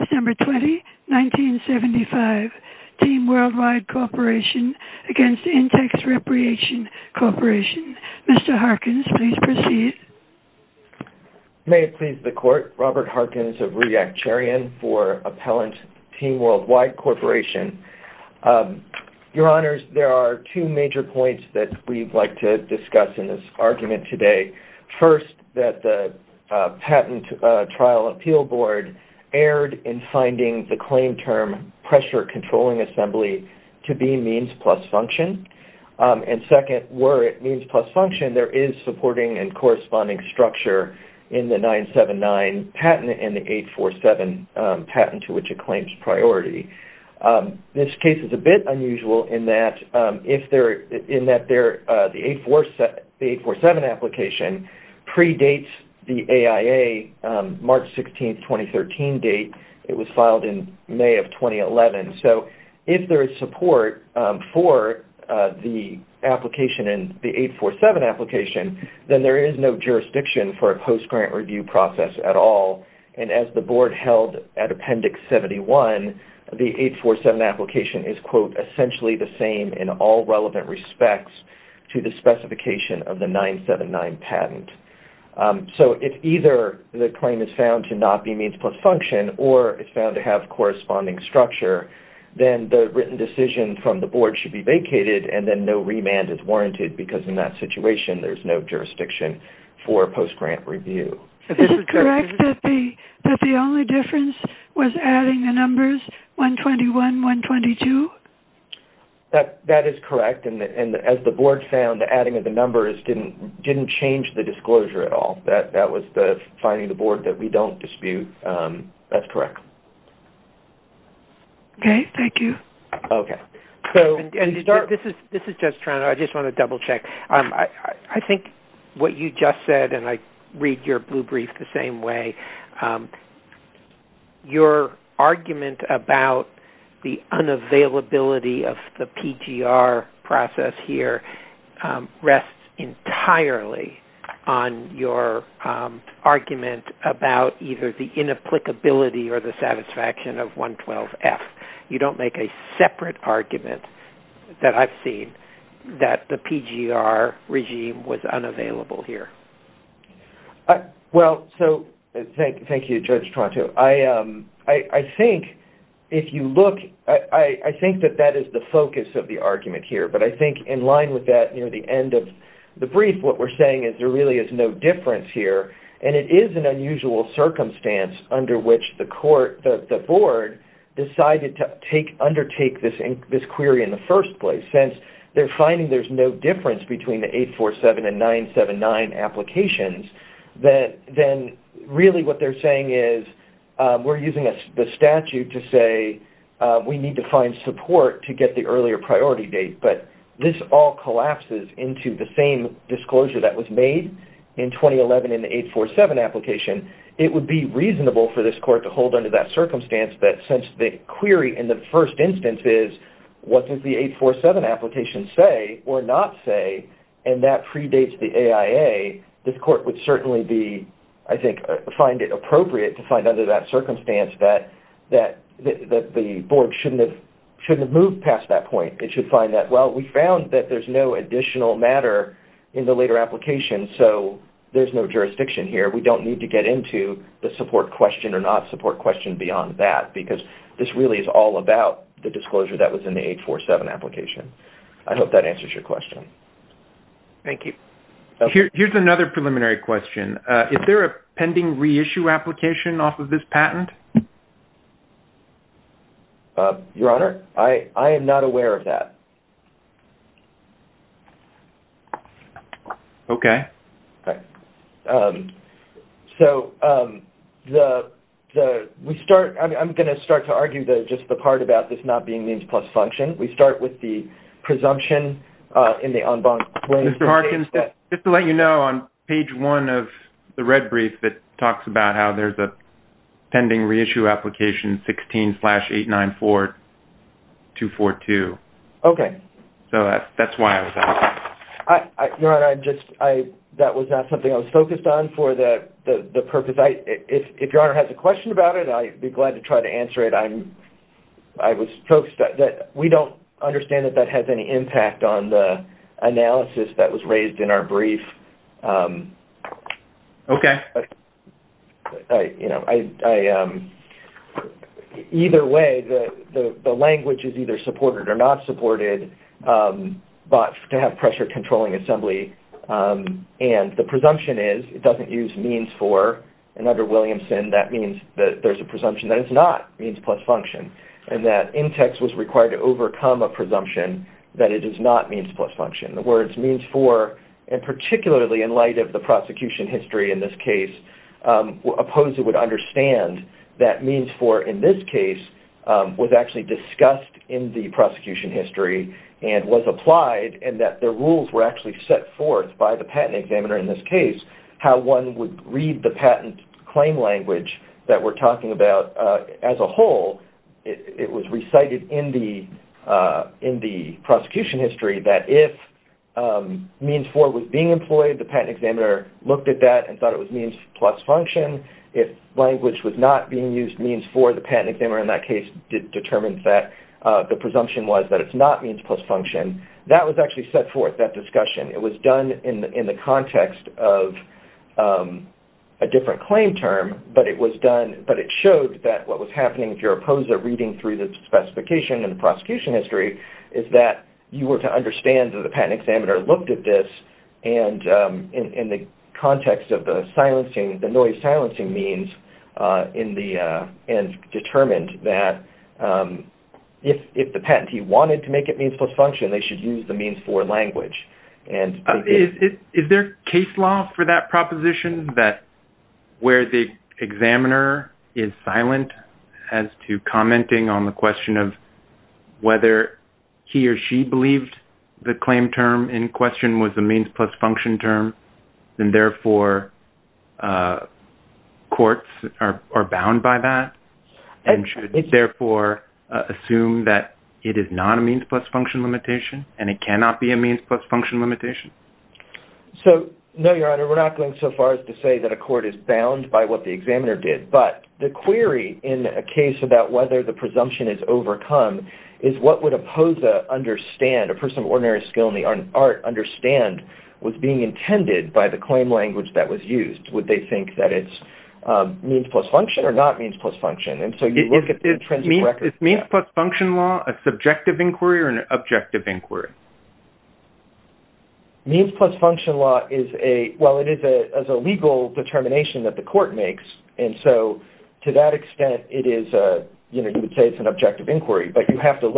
December 20, 1975. Team Worldwide Corporation v. Intex Recreation Corporation. Mr. Harkins please proceed. May it please the court, Robert Harkins of REACT Charion for Appellant Team Worldwide Corporation. Your Honors, there are two major points that we'd like to discuss in this argument today. First, that the Patent Trial Appeal Board erred in finding the claim term pressure controlling assembly to be means plus function. And second, were it means plus function, there is supporting and corresponding structure in the 979 patent and the 847 patent to which it claims priority. This case is a bit unusual in that the 847 application predates the AIA March 16, 2013 date. It was filed in May of 2011. So if there is support for the application and the 847 application, then there is no jurisdiction for a post-grant review process at all. And as the board held at Appendix 71, the 847 application is quote, essentially the same in all relevant respects to the specification of the 979 patent. So if either the claim is found to not be means plus function or is found to have corresponding structure, then the written decision from the board should be vacated and then no remand is warranted because in that situation there is no jurisdiction for post-grant review. Is it correct that the only difference was adding the numbers 121, 122? That is correct. And as the board found, adding the numbers didn't change the disclosure at all. That was the finding of the board that we don't dispute. That's correct. Okay. Thank you. This is Jeff Toronto. I just want to double check. I think what you just said, and I read your blue brief the same way, your argument about the unavailability of the PGR process here rests entirely on your argument about either the inapplicability or the satisfaction of 112F. You don't make a separate argument that I've seen that the PGR regime was unavailable here. Well, so thank you, Judge Toronto. I think if you look, I think that that is the focus of the argument here. But I think in line with that near the end of the brief, what we're saying is there really is no difference here. And it is an unusual circumstance under which the board decided to undertake this query in the first place. Since they're finding there's no difference between the 847 and 979 applications, then really what they're saying is we're using the statute to say we need to find support to get the earlier priority date. But this all collapses into the same disclosure that was made in 2011 in the 847 application. It would be reasonable for this court to hold under that circumstance that since the query in the first instance is, what does the 847 application say or not say, and that predates the AIA, this court would certainly be, I think, find it appropriate to find under that circumstance that the board shouldn't have moved past that point. It should find that, well, we found that there's no additional matter in the later application, so there's no jurisdiction here. We don't need to get into the support question or not support question beyond that because this really is all about the disclosure that was in the 847 application. I hope that answers your question. Thank you. Here's another preliminary question. Is there a pending reissue application off of this patent? Your Honor, I am not aware of that. Okay. So we start, I'm going to start to argue just the part about this not being means plus function. We start with the presumption in the en banc way. Mr. Harkins, just to let you know, on Page 1 of the red brief, it talks about how there's a pending reissue application 16-894-242. Okay. So that's why I was asking. Your Honor, that was not something I was focused on for the purpose. If Your Honor has a question about it, I'd be glad to try to answer it. We don't understand that that has any impact on the analysis that was raised in our brief. Okay. Either way, the language is either supported or not supported to have pressure-controlling assembly. And the presumption is it doesn't use means for, and under Williamson, that means that there's a presumption that it's not means plus function, and that INTEX was required to overcome a presumption that it is not means plus function. The words means for, and particularly in light of the prosecution history in this case, opposed it would understand that means for in this case was actually discussed in the prosecution history and was applied and that the rules were actually set forth by the patent examiner in this case, how one would read the patent claim language that we're talking about as a whole. It was recited in the prosecution history that if means for was being employed, the patent examiner looked at that and thought it was means plus function. If language was not being used, means for, the patent examiner in that case determined that the presumption was that it's not means plus function. That was actually set forth, that discussion. It was done in the context of a different claim term, but it showed that what was happening if you're opposed to reading through the specification in the prosecution history is that you were to understand that the patent examiner looked at this and in the context of the noise silencing means, and determined that if the patentee wanted to make it means plus function, they should use the means for language. Is there case law for that proposition that where the examiner is silent as to commenting on the question of whether he or she believed the claim term in question was a means plus function term, and therefore courts are bound by that, and should therefore assume that it is not a means plus function limitation and it cannot be a means plus function limitation? No, Your Honor. We're not going so far as to say that a court is bound by what the examiner did, but the query in a case about whether the presumption is overcome is what would oppose a person of ordinary skill in the art understand was being intended by the claim language that was used. Would they think that it's means plus function or not means plus function? Is means plus function law a subjective inquiry or an objective inquiry? Means plus function law is a legal determination that the court makes, and so to that extent you would say it's an objective inquiry, but the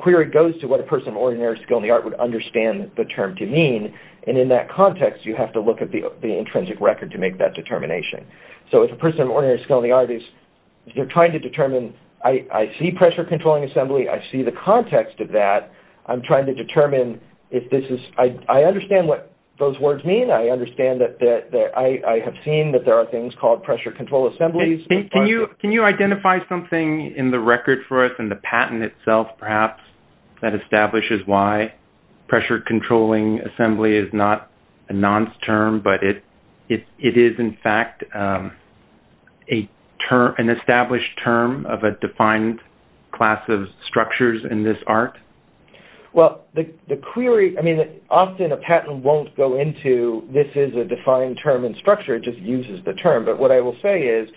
query goes to what a person of ordinary skill in the art would understand the term to mean, and in that context you have to look at the intrinsic record to make that determination. So if a person of ordinary skill in the art is trying to determine, I see pressure-controlling assembly, I see the context of that, I'm trying to determine if this is-I understand what those words mean, I understand that I have seen that there are things called pressure-control assemblies. Can you identify something in the record for us, in the patent itself perhaps, that establishes why pressure-controlling assembly is not a nonce term, but it is in fact an established term of a defined class of structures in this art? Well, the query-I mean, often a patent won't go into this is a defined term and structure, it just uses the term, but what I will say is,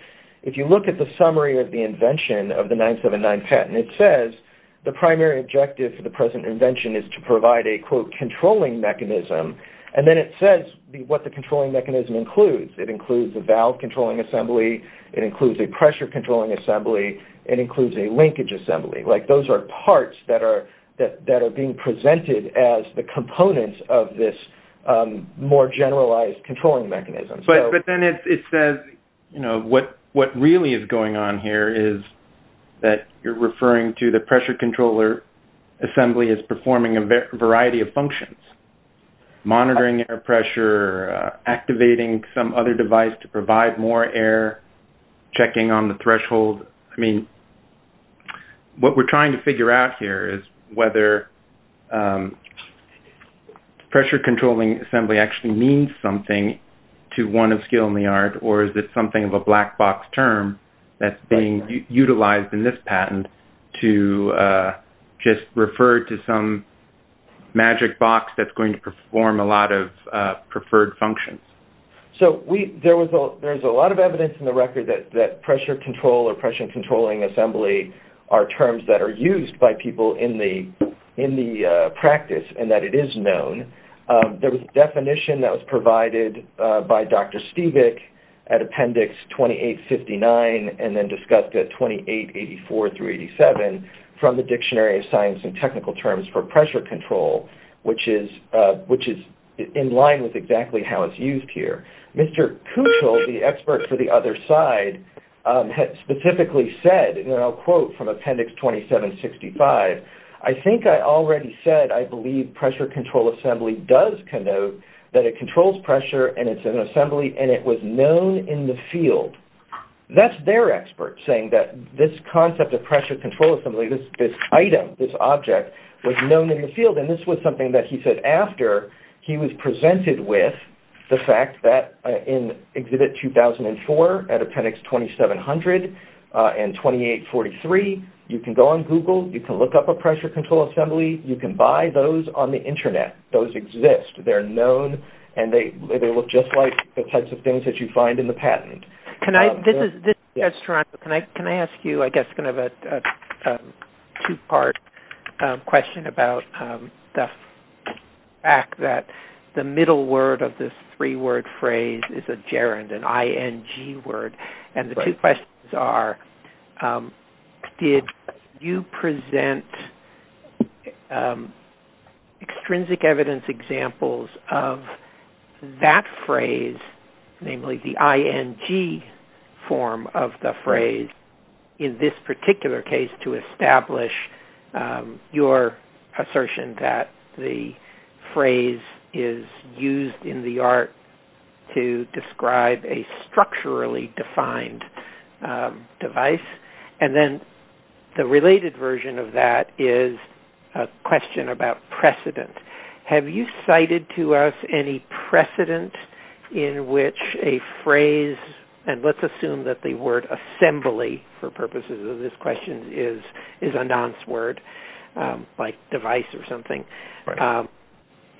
if you look at the summary of the invention of the 979 patent, it says the primary objective for the present invention is to provide a, quote, controlling mechanism, and then it says what the controlling mechanism includes. It includes a valve-controlling assembly, it includes a pressure-controlling assembly, it includes a linkage assembly. Like those are parts that are being presented as the components of this more generalized controlling mechanism. But then it says, you know, what really is going on here is that you're referring to the pressure-controller assembly as performing a variety of functions-monitoring air pressure, activating some other device to provide more air, checking on the threshold. I mean, what we're trying to figure out here is whether pressure-controlling assembly actually means something to one of skill in the art, or is it something of a black box term that's being utilized in this patent to just refer to some magic box that's going to perform a lot of preferred functions. So there's a lot of evidence in the record that pressure-control or pressure-controlling assembly are terms that are used by people in the practice, and that it is known. There was a definition that was provided by Dr. Stevick at Appendix 2859 and then discussed at 2884-87 from the Dictionary of Science and Technical Terms for pressure control, which is in line with exactly how it's used here. Mr. Kuchel, the expert for the other side, had specifically said, and I'll quote from Appendix 2765, I think I already said I believe pressure-control assembly does connote that it controls pressure and it's an assembly and it was known in the field. That's their expert saying that this concept of pressure-control assembly, this item, this object, was known in the field, and this was something that he said after he was presented with the fact that in Exhibit 2004 at Appendix 2700 and 2843, you can go on Google, you can look up a pressure-control assembly, you can buy those on the Internet. Those exist. They're known and they look just like the types of things that you find in the patent. Can I ask you, I guess, kind of a two-part question about the fact that the middle word of this three-word phrase is a gerund, an I-N-G word, and the two questions are, did you present extrinsic evidence examples of that phrase, namely the I-N-G form of the phrase, in this particular case to establish your assertion that the phrase is used in the art to describe a structurally defined device? And then the related version of that is a question about precedent. Have you cited to us any precedent in which a phrase, and let's assume that the word assembly for purposes of this question is a nonce word, like device or something,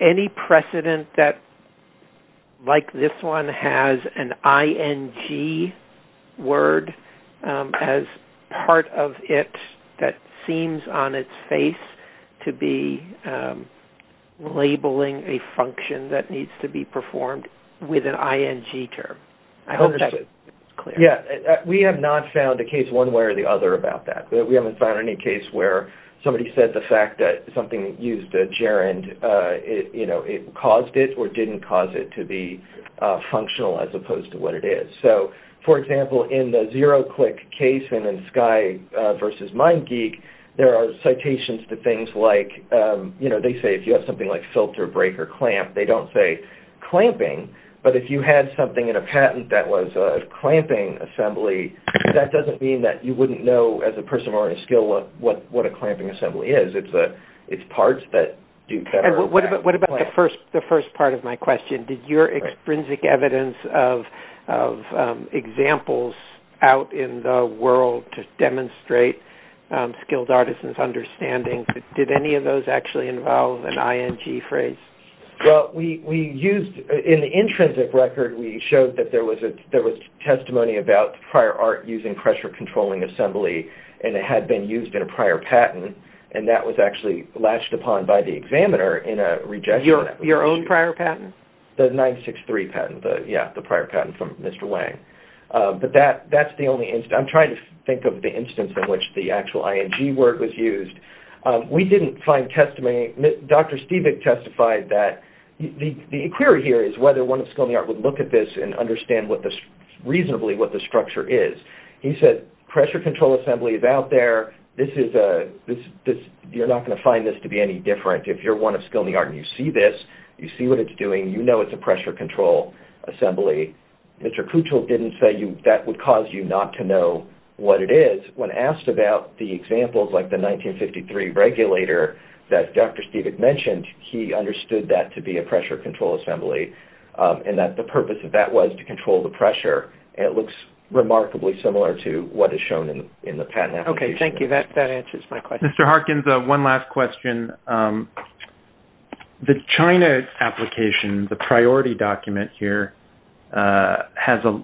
any precedent that, like this one, has an I-N-G word as part of it that seems on its face to be labeling a function that needs to be performed with an I-N-G term? I hope that's clear. We have not found a case one way or the other about that. We haven't found any case where somebody said the fact that something used a gerund caused it or didn't cause it to be functional as opposed to what it is. So, for example, in the zero-click case in Sky versus MindGeek, there are citations to things like, they say if you have something like filter, break, or clamp, they don't say clamping, but if you had something in a patent that was a clamping assembly, that doesn't mean that you wouldn't know as a person who already has a skill what a clamping assembly is. It's parts that are clamped. What about the first part of my question? Did your extrinsic evidence of examples out in the world to demonstrate skilled artisans' understanding, did any of those actually involve an I-N-G phrase? Well, in the intrinsic record, we showed that there was testimony about prior art using pressure-controlling assembly, and it had been used in a prior patent, and that was actually latched upon by the examiner in a rejection. Your own prior patent? The 963 patent, yeah, the prior patent from Mr. Wang. But that's the only instance. I'm trying to think of the instance in which the actual I-N-G word was used. We didn't find testimony. Dr. Stevig testified that the query here is whether one of skilled art would look at this and understand reasonably what the structure is. He said pressure-control assembly is out there. You're not going to find this to be any different. If you're one of skilled art and you see this, you see what it's doing, you know it's a pressure-control assembly. Mr. Kuchel didn't say that would cause you not to know what it is. When asked about the examples like the 1953 regulator that Dr. Stevig mentioned, he understood that to be a pressure-control assembly and that the purpose of that was to control the pressure, and it looks remarkably similar to what is shown in the patent application. Okay, thank you. That answers my question. Mr. Harkins, one last question. The China application, the priority document here, has a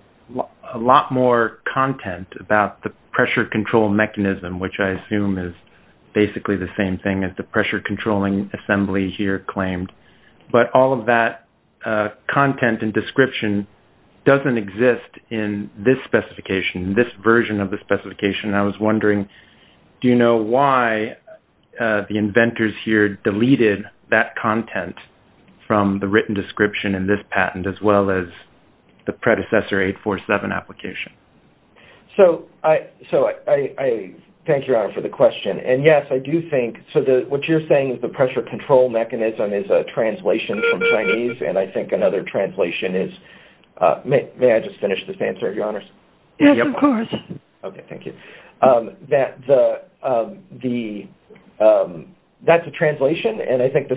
lot more content about the pressure-control mechanism, which I assume is basically the same thing as the pressure-controlling assembly here claimed, but all of that content and description doesn't exist in this specification, this version of the specification. I was wondering, do you know why the inventors here deleted that content from the written description in this patent as well as the predecessor 847 application? Thank you, Your Honor, for the question. Yes, I do think what you're saying is the pressure-control mechanism is a translation from Chinese, and I think another translation is May I just finish this answer, Your Honors? Yes, of course. Okay, thank you. That's a translation, and I think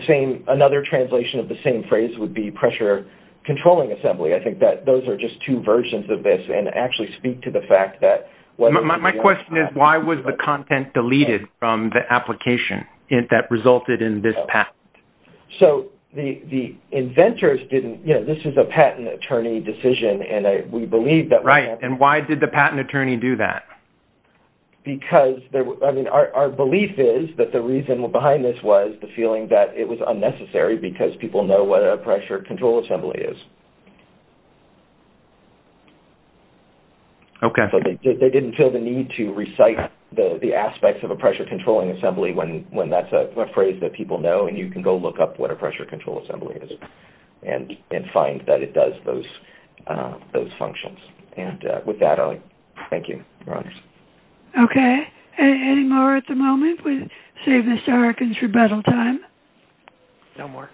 another translation of the same phrase would be pressure-controlling assembly. I think those are just two versions of this and actually speak to the fact that... My question is, why was the content deleted from the application that resulted in this patent? So the inventors didn't, you know, this is a patent attorney decision, and we believe that... Why did they do that? Because, I mean, our belief is that the reason behind this was the feeling that it was unnecessary because people know what a pressure-control assembly is. Okay. They didn't feel the need to recite the aspects of a pressure-controlling assembly when that's a phrase that people know, and you can go look up what a pressure-control assembly is and find that it does those functions. And with that, I'll thank you, Your Honors. Okay. Any more at the moment? We saved Mr. Harkin's rebuttal time. No more.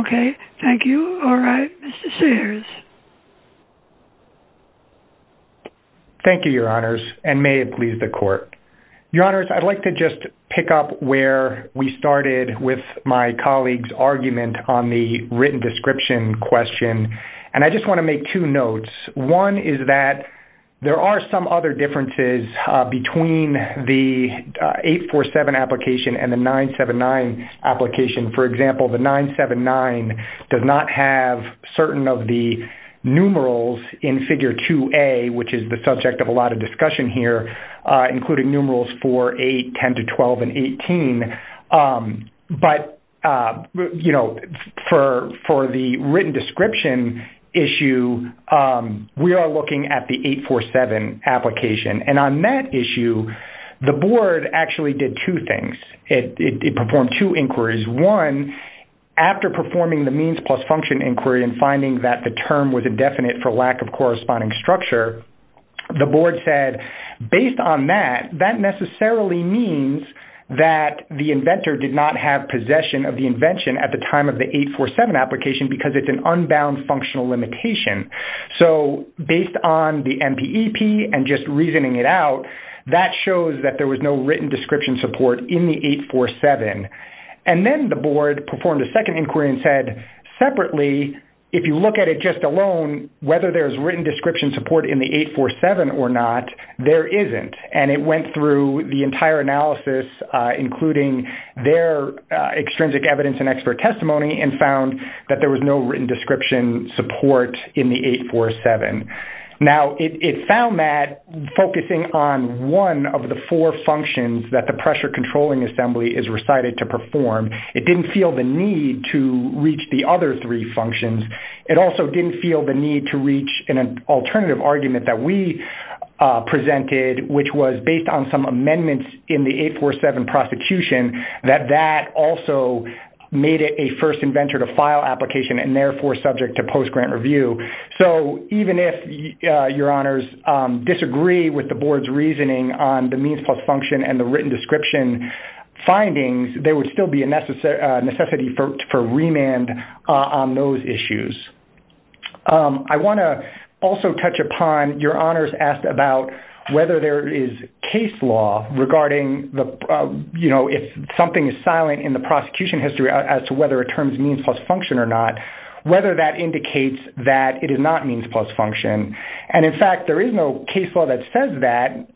Okay. Thank you. All right. Mr. Sears. Thank you, Your Honors, and may it please the Court. Your Honors, I'd like to just pick up where we started with my colleague's argument on the written description question, and I just want to make two notes. One is that there are some other differences between the 847 application and the 979 application. For example, the 979 does not have certain of the numerals in Figure 2A, which is the subject of a lot of discussion here, including numerals 4, 8, 10 to 12, and 18. But, you know, for the written description issue, we are looking at the 847 application. And on that issue, the Board actually did two things. It performed two inquiries. One, after performing the means plus function inquiry and finding that the term was indefinite for lack of corresponding structure, the Board said, based on that, that necessarily means that the inventor did not have possession of the invention at the time of the 847 application because it's an unbound functional limitation. So based on the MPEP and just reasoning it out, that shows that there was no written description support in the 847. And then the Board performed a second inquiry and said, separately, if you look at it just alone, whether there's written description support in the 847 or not, there isn't. And it went through the entire analysis, including their extrinsic evidence and expert testimony, and found that there was no written description support in the 847. Now, it found that focusing on one of the four functions that the pressure controlling assembly is recited to perform, it didn't feel the need to reach the other three functions. It also didn't feel the need to reach an alternative argument that we presented, which was based on some amendments in the 847 prosecution, that that also made it a first inventor to file application and therefore subject to post-grant review. So even if your honors disagree with the Board's reasoning on the means plus function and the written description findings, there would still be a necessity for remand on those issues. I want to also touch upon your honors asked about whether there is case law regarding, you know, if something is silent in the prosecution history as to whether a term is means plus function or not, whether that indicates that it is not means plus function. And, in fact, there is no case law that says that.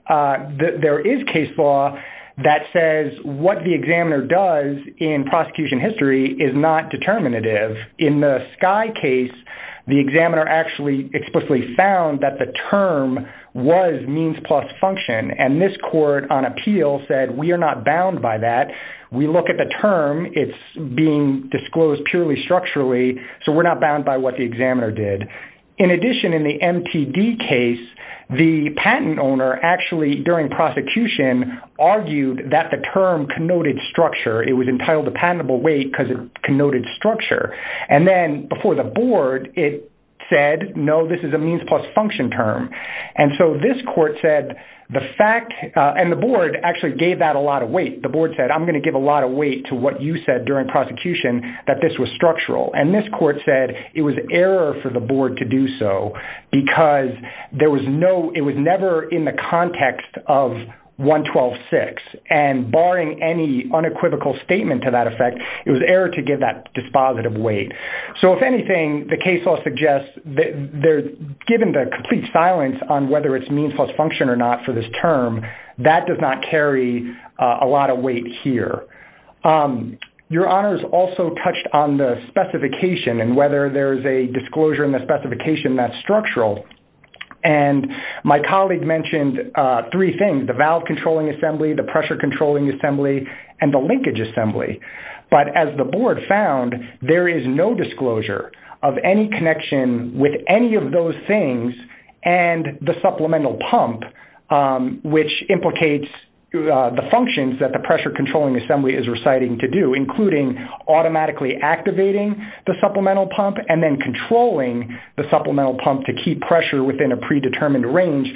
There is case law that says what the examiner does in prosecution history is not determinative. In the Skye case, the examiner actually explicitly found that the term was means plus function, and this court on appeal said we are not bound by that. We look at the term. It's being disclosed purely structurally, so we're not bound by what the examiner did. In addition, in the MTD case, the patent owner actually, during prosecution, argued that the term connoted structure. It was entitled a patentable weight because it connoted structure. And then before the Board, it said, no, this is a means plus function term. And so this court said the fact – and the Board actually gave that a lot of weight. The Board said I'm going to give a lot of weight to what you said during prosecution that this was structural. And this court said it was error for the Board to do so because there was no – it was never in the context of 112.6. And barring any unequivocal statement to that effect, it was error to give that dispositive weight. So, if anything, the case law suggests that given the complete silence on whether it's means plus function or not for this term, that does not carry a lot of weight here. Your Honors also touched on the specification and whether there's a disclosure in the specification that's structural. And my colleague mentioned three things, the valve controlling assembly, the pressure controlling assembly, and the linkage assembly. But as the Board found, there is no disclosure of any connection with any of those things and the supplemental pump, which implicates the functions that the pressure controlling assembly is reciting to do, including automatically activating the supplemental pump and then controlling the supplemental pump to keep pressure within a predetermined range.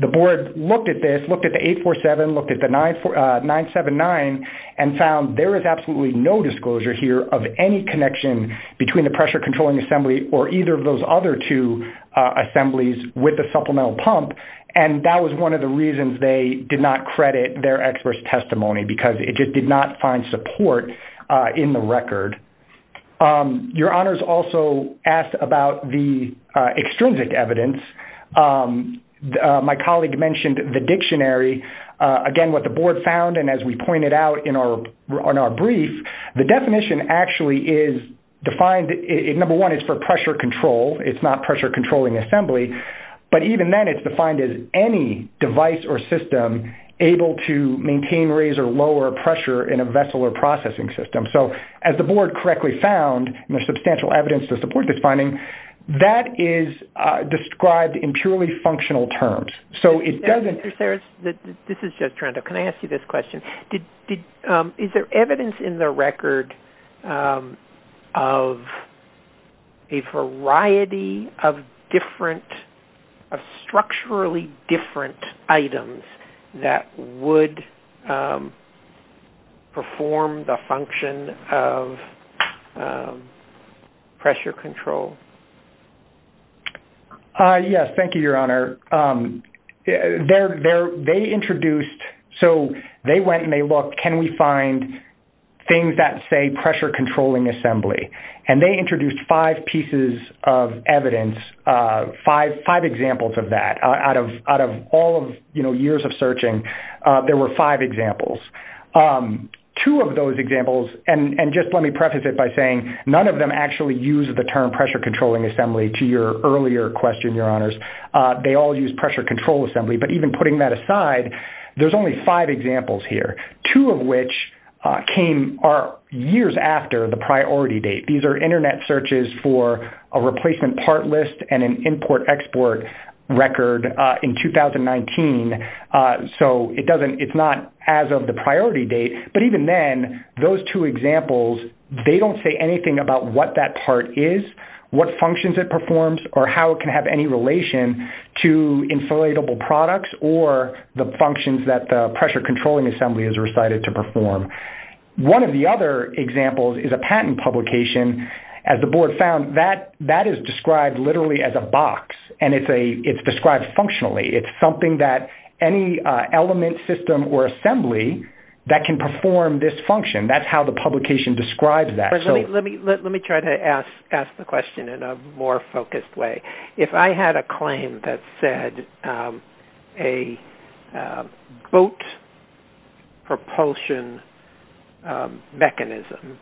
The Board looked at this, looked at the 847, looked at the 979, and found there is absolutely no disclosure here of any connection between the pressure controlling assembly or either of those other two assemblies with the supplemental pump. And that was one of the reasons they did not credit their expert's testimony, because it just did not find support in the record. Your Honors also asked about the extrinsic evidence. My colleague mentioned the dictionary. Again, what the Board found, and as we pointed out in our brief, the definition actually is defined, number one, it's for pressure control. It's not pressure controlling assembly. But even then it's defined as any device or system able to maintain, raise, or lower pressure in a vessel or processing system. So as the Board correctly found, and there's substantial evidence to support this finding, that is described in purely functional terms. So it doesn't – Mr. Sarris, this is Joe Torrento. Can I ask you this question? Is there evidence in the record of a variety of different – of structurally different items that would perform the function of pressure control? Yes, thank you, Your Honor. They introduced – so they went and they looked, can we find things that say pressure controlling assembly? And they introduced five pieces of evidence, five examples of that. Out of all of years of searching, there were five examples. Two of those examples, and just let me preface it by saying, none of them actually use the term pressure controlling assembly, to your earlier question, Your Honors. They all use pressure control assembly. But even putting that aside, there's only five examples here, two of which came years after the priority date. These are Internet searches for a replacement part list and an import-export record in 2019. So it doesn't – it's not as of the priority date. But even then, those two examples, they don't say anything about what that part is, what functions it performs, or how it can have any relation to inflatable products or the functions that the pressure controlling assembly is recited to perform. One of the other examples is a patent publication. As the Board found, that is described literally as a box, and it's described functionally. It's something that any element, system, or assembly that can perform this function. That's how the publication describes that. Let me try to ask the question in a more focused way. If I had a claim that said a boat propulsion mechanism,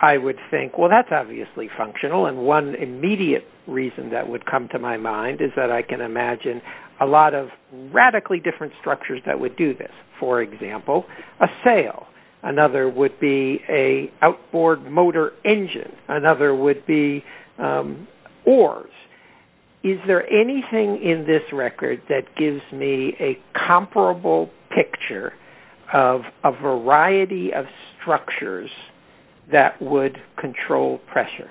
I would think, well, that's obviously functional. And one immediate reason that would come to my mind is that I can imagine a lot of radically different structures that would do this. For example, a sail. Another would be an outboard motor engine. Another would be oars. Is there anything in this record that gives me a comparable picture of a variety of structures that would control pressure?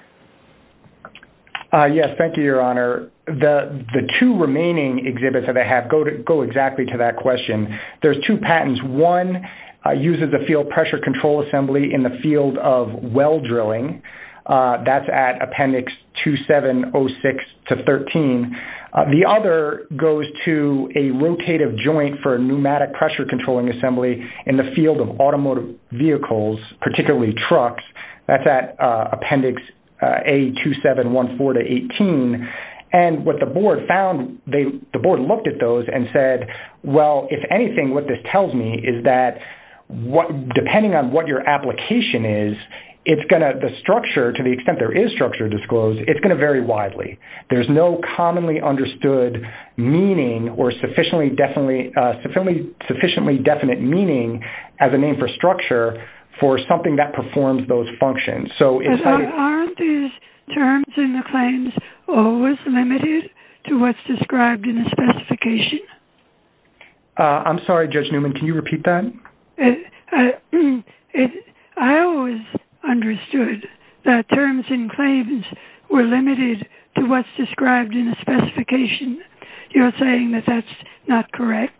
Yes, thank you, Your Honor. The two remaining exhibits that I have go exactly to that question. There's two patents. One uses a field pressure control assembly in the field of well drilling. That's at Appendix 2706-13. The other goes to a rotative joint for a pneumatic pressure controlling assembly in the field of automotive vehicles, particularly trucks. That's at Appendix A2714-18. And what the Board found, the Board looked at those and said, well, if anything what this tells me is that depending on what your application is, the structure, to the extent there is structure disclosed, it's going to vary widely. There's no commonly understood meaning or sufficiently definite meaning as a name for structure for something that performs those functions. Aren't these terms in the claims always limited to what's described in the specification? I'm sorry, Judge Newman. Can you repeat that? I always understood that terms in claims were limited to what's described in the specification. You're saying that that's not correct?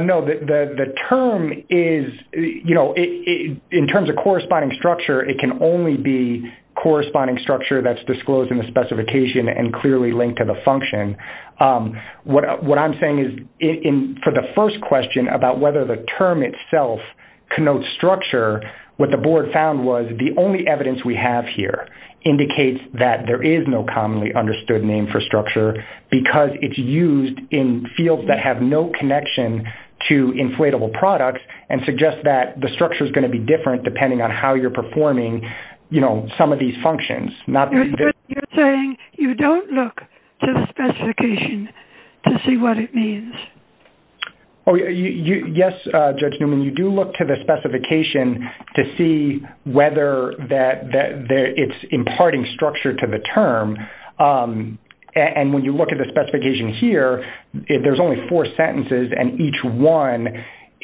No. The term is, you know, in terms of corresponding structure, it can only be corresponding structure that's disclosed in the specification and clearly linked to the function. What I'm saying is for the first question about whether the term itself connotes structure, what the Board found was the only evidence we have here indicates that there is no that have no connection to inflatable products and suggests that the structure is going to be different depending on how you're performing, you know, some of these functions. You're saying you don't look to the specification to see what it means? Yes, Judge Newman. You do look to the specification to see whether it's imparting structure to the term. And when you look at the specification here, there's only four sentences, and each one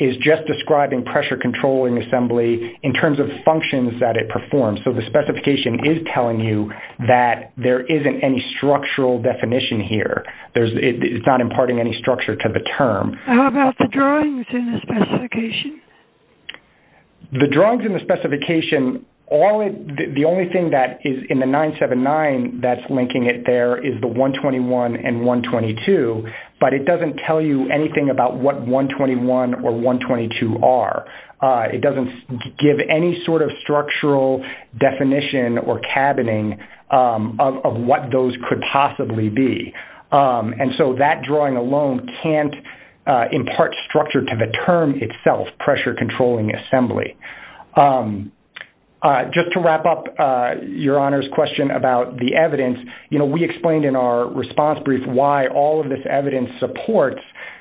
is just describing pressure controlling assembly in terms of functions that it performs. So the specification is telling you that there isn't any structural definition here. It's not imparting any structure to the term. How about the drawings in the specification? The drawings in the specification, the only thing that is in the 979 that's linking it there is the 121 and 122, but it doesn't tell you anything about what 121 or 122 are. It doesn't give any sort of structural definition or cabining of what those could possibly be. And so that drawing alone can't impart structure to the term itself, pressure controlling assembly. Just to wrap up Your Honor's question about the evidence, you know, we explained in our response brief why all of this evidence supports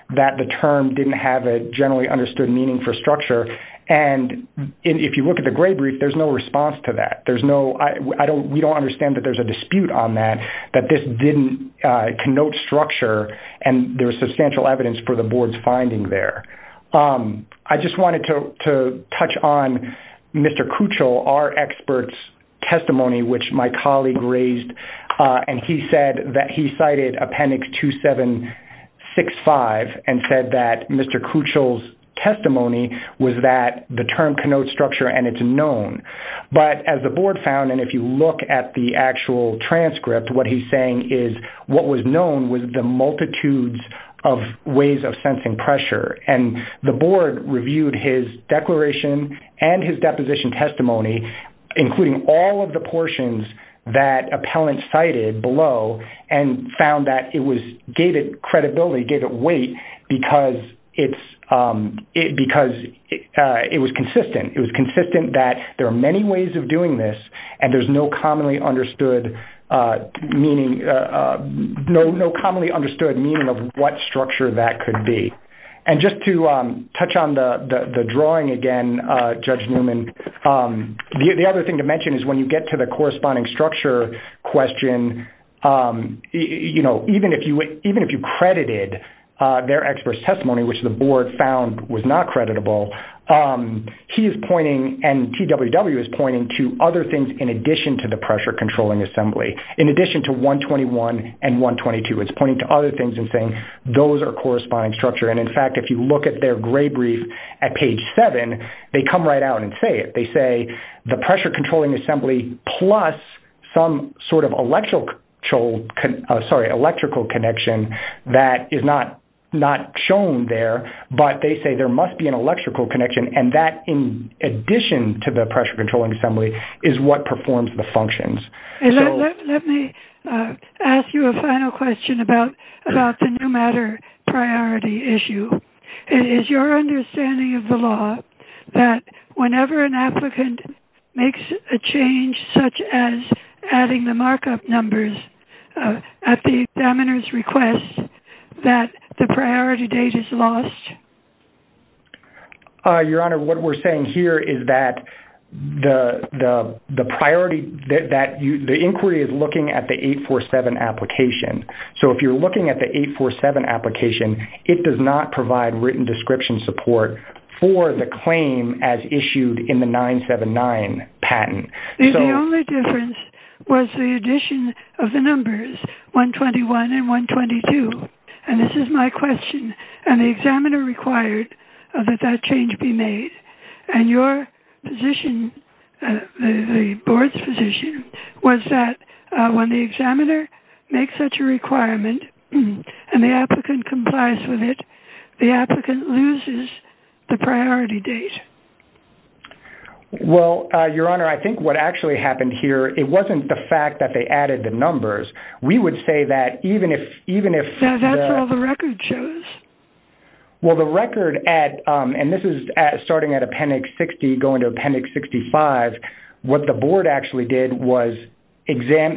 that the term didn't have a generally understood meaning for structure. And if you look at the gray brief, there's no response to that. We don't understand that there's a dispute on that, that this didn't connote structure, and there's substantial evidence for the Board's finding there. I just wanted to touch on Mr. Kuchel, our expert's testimony, which my colleague raised, and he said that he cited Appendix 2765 and said that Mr. Kuchel's testimony was that the term connotes structure and it's known. But as the Board found, and if you look at the actual transcript, what he's saying is what was known was the multitudes of ways of sensing pressure. And the Board reviewed his declaration and his deposition testimony, including all of the portions that appellants cited below, and found that it gave it credibility, gave it weight, because it was consistent. It was consistent that there are many ways of doing this, and there's no commonly understood meaning of what structure that could be. And just to touch on the drawing again, Judge Newman, the other thing to mention is when you get to the corresponding structure question, even if you credited their expert's testimony, which the Board found was not creditable, he is pointing and TWW is pointing to other things in addition to the pressure-controlling assembly. In addition to 121 and 122, it's pointing to other things and saying those are corresponding structure. And, in fact, if you look at their gray brief at page 7, they come right out and say it. They say the pressure-controlling assembly plus some sort of electrical connection that is not shown there, but they say there must be an electrical connection. And that, in addition to the pressure-controlling assembly, is what performs the functions. Let me ask you a final question about the no matter priority issue. Is your understanding of the law that whenever an applicant makes a change, such as adding the markup numbers at the examiner's request, that the priority date is lost? Your Honor, what we're saying here is that the inquiry is looking at the 847 application. So if you're looking at the 847 application, it does not provide written description support for the claim as issued in the 979 patent. The only difference was the addition of the numbers 121 and 122. And this is my question. And the examiner required that that change be made. And your position, the Board's position, was that when the examiner makes such a requirement and the applicant complies with it, the applicant loses the priority date. Well, Your Honor, I think what actually happened here, it wasn't the fact that they added the numbers. We would say that even if... That's all the record shows. Well, the record at, and this is starting at Appendix 60, going to Appendix 65, what the Board actually did was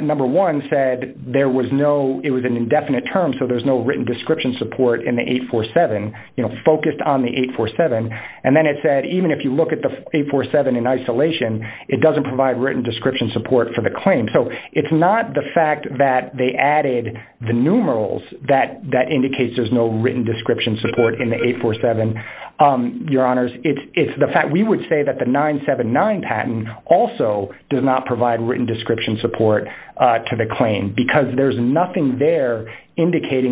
number one said there was no, it was an indefinite term, so there's no written description support in the 847, you know, focused on the 847. And then it said even if you look at the 847 in isolation, it doesn't provide written description support for the claim. So it's not the fact that they added the numerals that indicates there's no written description support in the 847, Your Honors. It's the fact, we would say that the 979 patent also does not provide written description support to the claim because there's nothing there indicating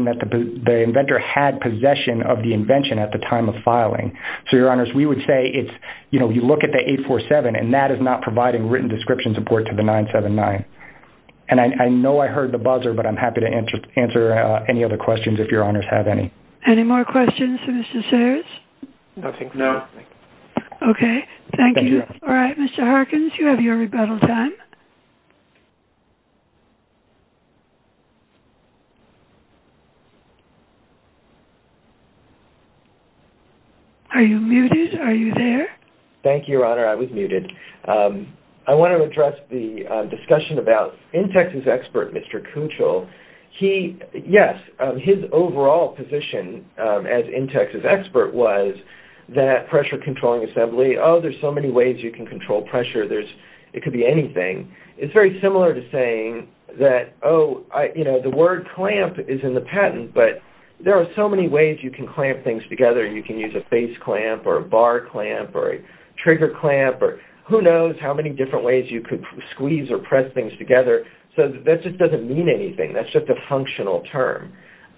So, Your Honors, we would say it's, you know, you look at the 847 and that is not providing written description support to the 979. And I know I heard the buzzer, but I'm happy to answer any other questions if Your Honors have any. Any more questions for Mr. Sears? No. Okay, thank you. All right, Mr. Harkins, you have your rebuttal time. Are you muted? Are you there? Thank you, Your Honor. I was muted. I want to address the discussion about Intex's expert, Mr. Kuchel. He, yes, his overall position as Intex's expert was that pressure controlling assembly, oh, there's so many ways you can control pressure. It could be anything. It's very similar to saying that, oh, you know, the word clamp is in the patent, but there are so many ways you can clamp things together. You can use a face clamp or a bar clamp or a trigger clamp or who knows how many different ways you could squeeze or press things together. So that just doesn't mean anything. That's just a functional term.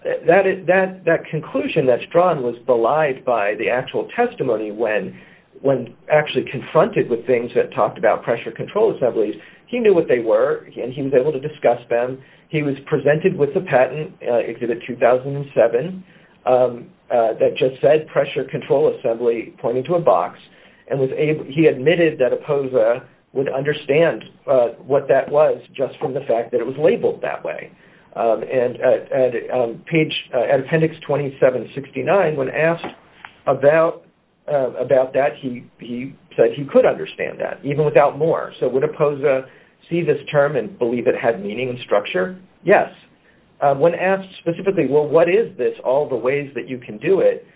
That conclusion that's drawn was belied by the actual testimony when actually confronted with things that talked about pressure control assemblies. He knew what they were, and he was able to discuss them. He was presented with the patent, Exhibit 2007, that just said pressure control assembly, pointed to a box, and he admitted that Opoza would understand what that was just from the fact that it was labeled that way. And at Appendix 2769, when asked about that, he said he could understand that, even without more. So would Opoza see this term and believe it had meaning and structure? Yes. When asked specifically, well, what is this, all the ways that you can do it,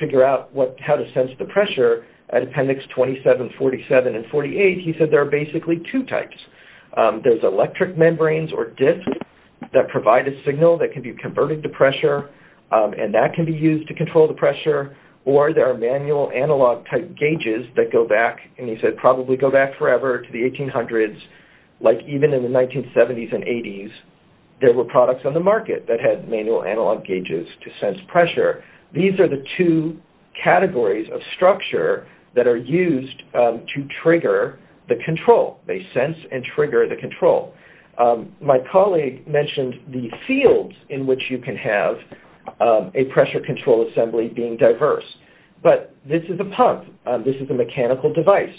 figure out how to sense the pressure, at Appendix 2747 and 48, he said there are basically two types. There's electric membranes or disks that provide a signal that can be converted to pressure, and that can be used to control the pressure, or there are manual analog type gauges that go back, and he said, probably go back forever to the 1800s, like even in the 1970s and 80s, there were products on the market that had manual analog gauges to sense pressure. These are the two categories of structure that are used to trigger the control. They sense and trigger the control. My colleague mentioned the fields in which you can have a pressure control assembly being diverse. But this is a pump. This is a mechanical device.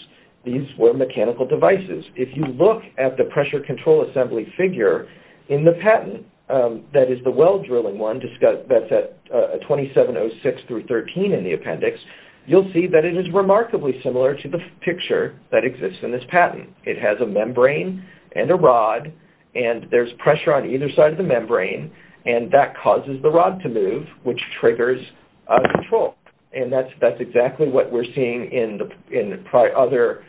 These were mechanical devices. If you look at the pressure control assembly figure in the patent that is the well-drilling one that's at 2706 through 13 in the appendix, you'll see that it is remarkably similar to the picture that exists in this patent. It has a membrane and a rod, and there's pressure on either side of the membrane, and that causes the rod to move, which triggers control. And that's exactly what we're seeing in other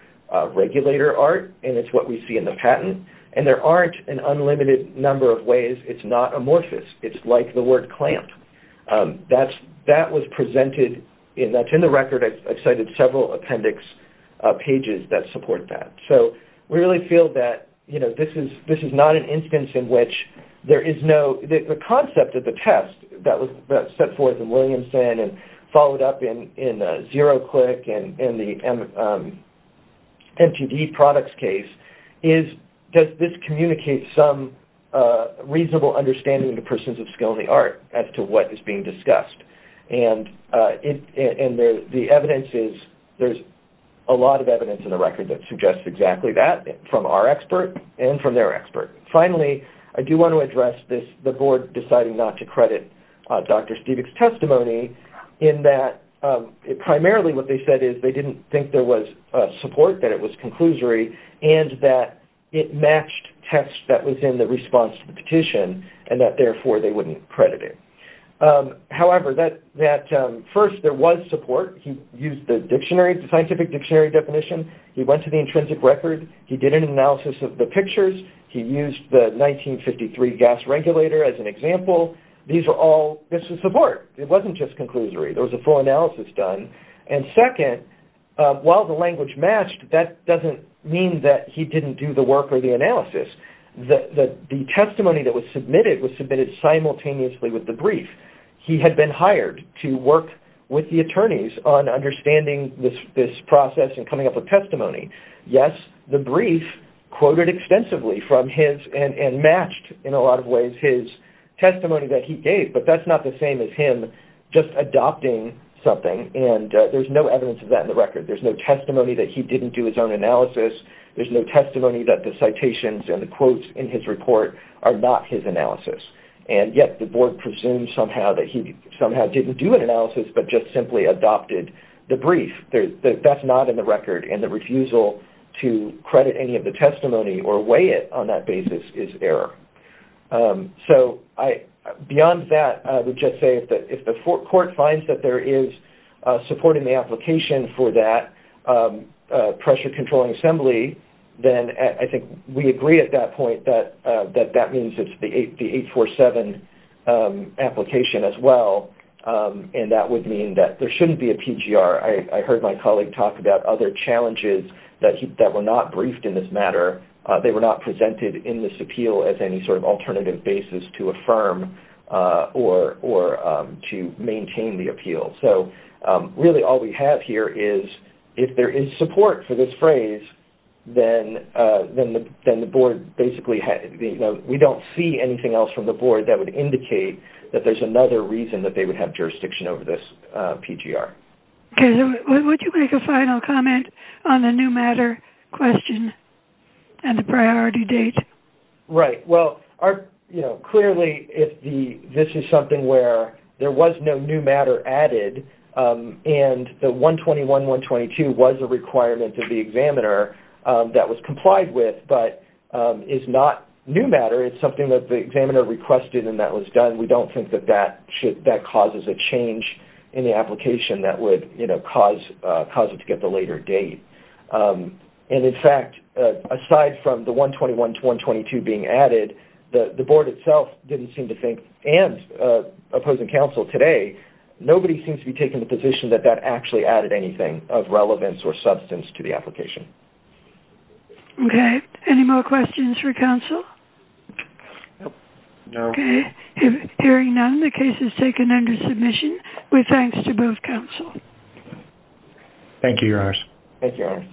regulator art, and it's what we see in the patent. And there aren't an unlimited number of ways. It's not amorphous. It's like the word clamped. That was presented, and that's in the record. I've cited several appendix pages that support that. So we really feel that this is not an instance in which there is no, So the concept of the test that was set forth in Williamson and followed up in ZeroClick and the NTD products case is, does this communicate some reasonable understanding to persons of skill in the art as to what is being discussed? And the evidence is there's a lot of evidence in the record that suggests exactly that from our expert and from their expert. Finally, I do want to address the board deciding not to credit Dr. Stiebich's testimony in that primarily what they said is they didn't think there was support, that it was conclusory, and that it matched tests that was in the response to the petition and that, therefore, they wouldn't credit it. However, that first there was support. He used the scientific dictionary definition. He went to the intrinsic record. He did an analysis of the pictures. He used the 1953 gas regulator as an example. These are all bits of support. It wasn't just conclusory. There was a full analysis done. And second, while the language matched, that doesn't mean that he didn't do the work or the analysis. The testimony that was submitted was submitted simultaneously with the brief. He had been hired to work with the attorneys on understanding this process and coming up with testimony. Yes, the brief quoted extensively from his and matched in a lot of ways his testimony that he gave, but that's not the same as him just adopting something, and there's no evidence of that in the record. There's no testimony that he didn't do his own analysis. There's no testimony that the citations and the quotes in his report are not his analysis, and yet the board presumes somehow that he somehow didn't do an analysis but just simply adopted the brief. That's not in the record, and the refusal to credit any of the testimony or weigh it on that basis is error. So beyond that, I would just say that if the court finds that there is support in the application for that pressure-controlling assembly, then I think we agree at that point that that means it's the 847 application as well, and that would mean that there shouldn't be a PGR. I heard my colleague talk about other challenges that were not briefed in this matter. They were not presented in this appeal as any sort of alternative basis to affirm or to maintain the appeal. So really all we have here is if there is support for this phrase, then we don't see anything else from the board that would indicate that there's another reason that they would have jurisdiction over this PGR. Okay. Would you make a final comment on the new matter question and the priority date? Right. Well, clearly this is something where there was no new matter added, and the 121-122 was a requirement to the examiner that was complied with but is not new matter. It's something that the examiner requested and that was done. We don't think that that causes a change in the application that would cause it to get the later date. And, in fact, aside from the 121-122 being added, the board itself didn't seem to think, and opposing counsel today, nobody seems to be taking the position that that actually added anything of relevance or substance to the application. Okay. Any more questions for counsel? No. Okay. Hearing none, the case is taken under submission with thanks to both counsel. Thank you, your honors. Thank you, your honors.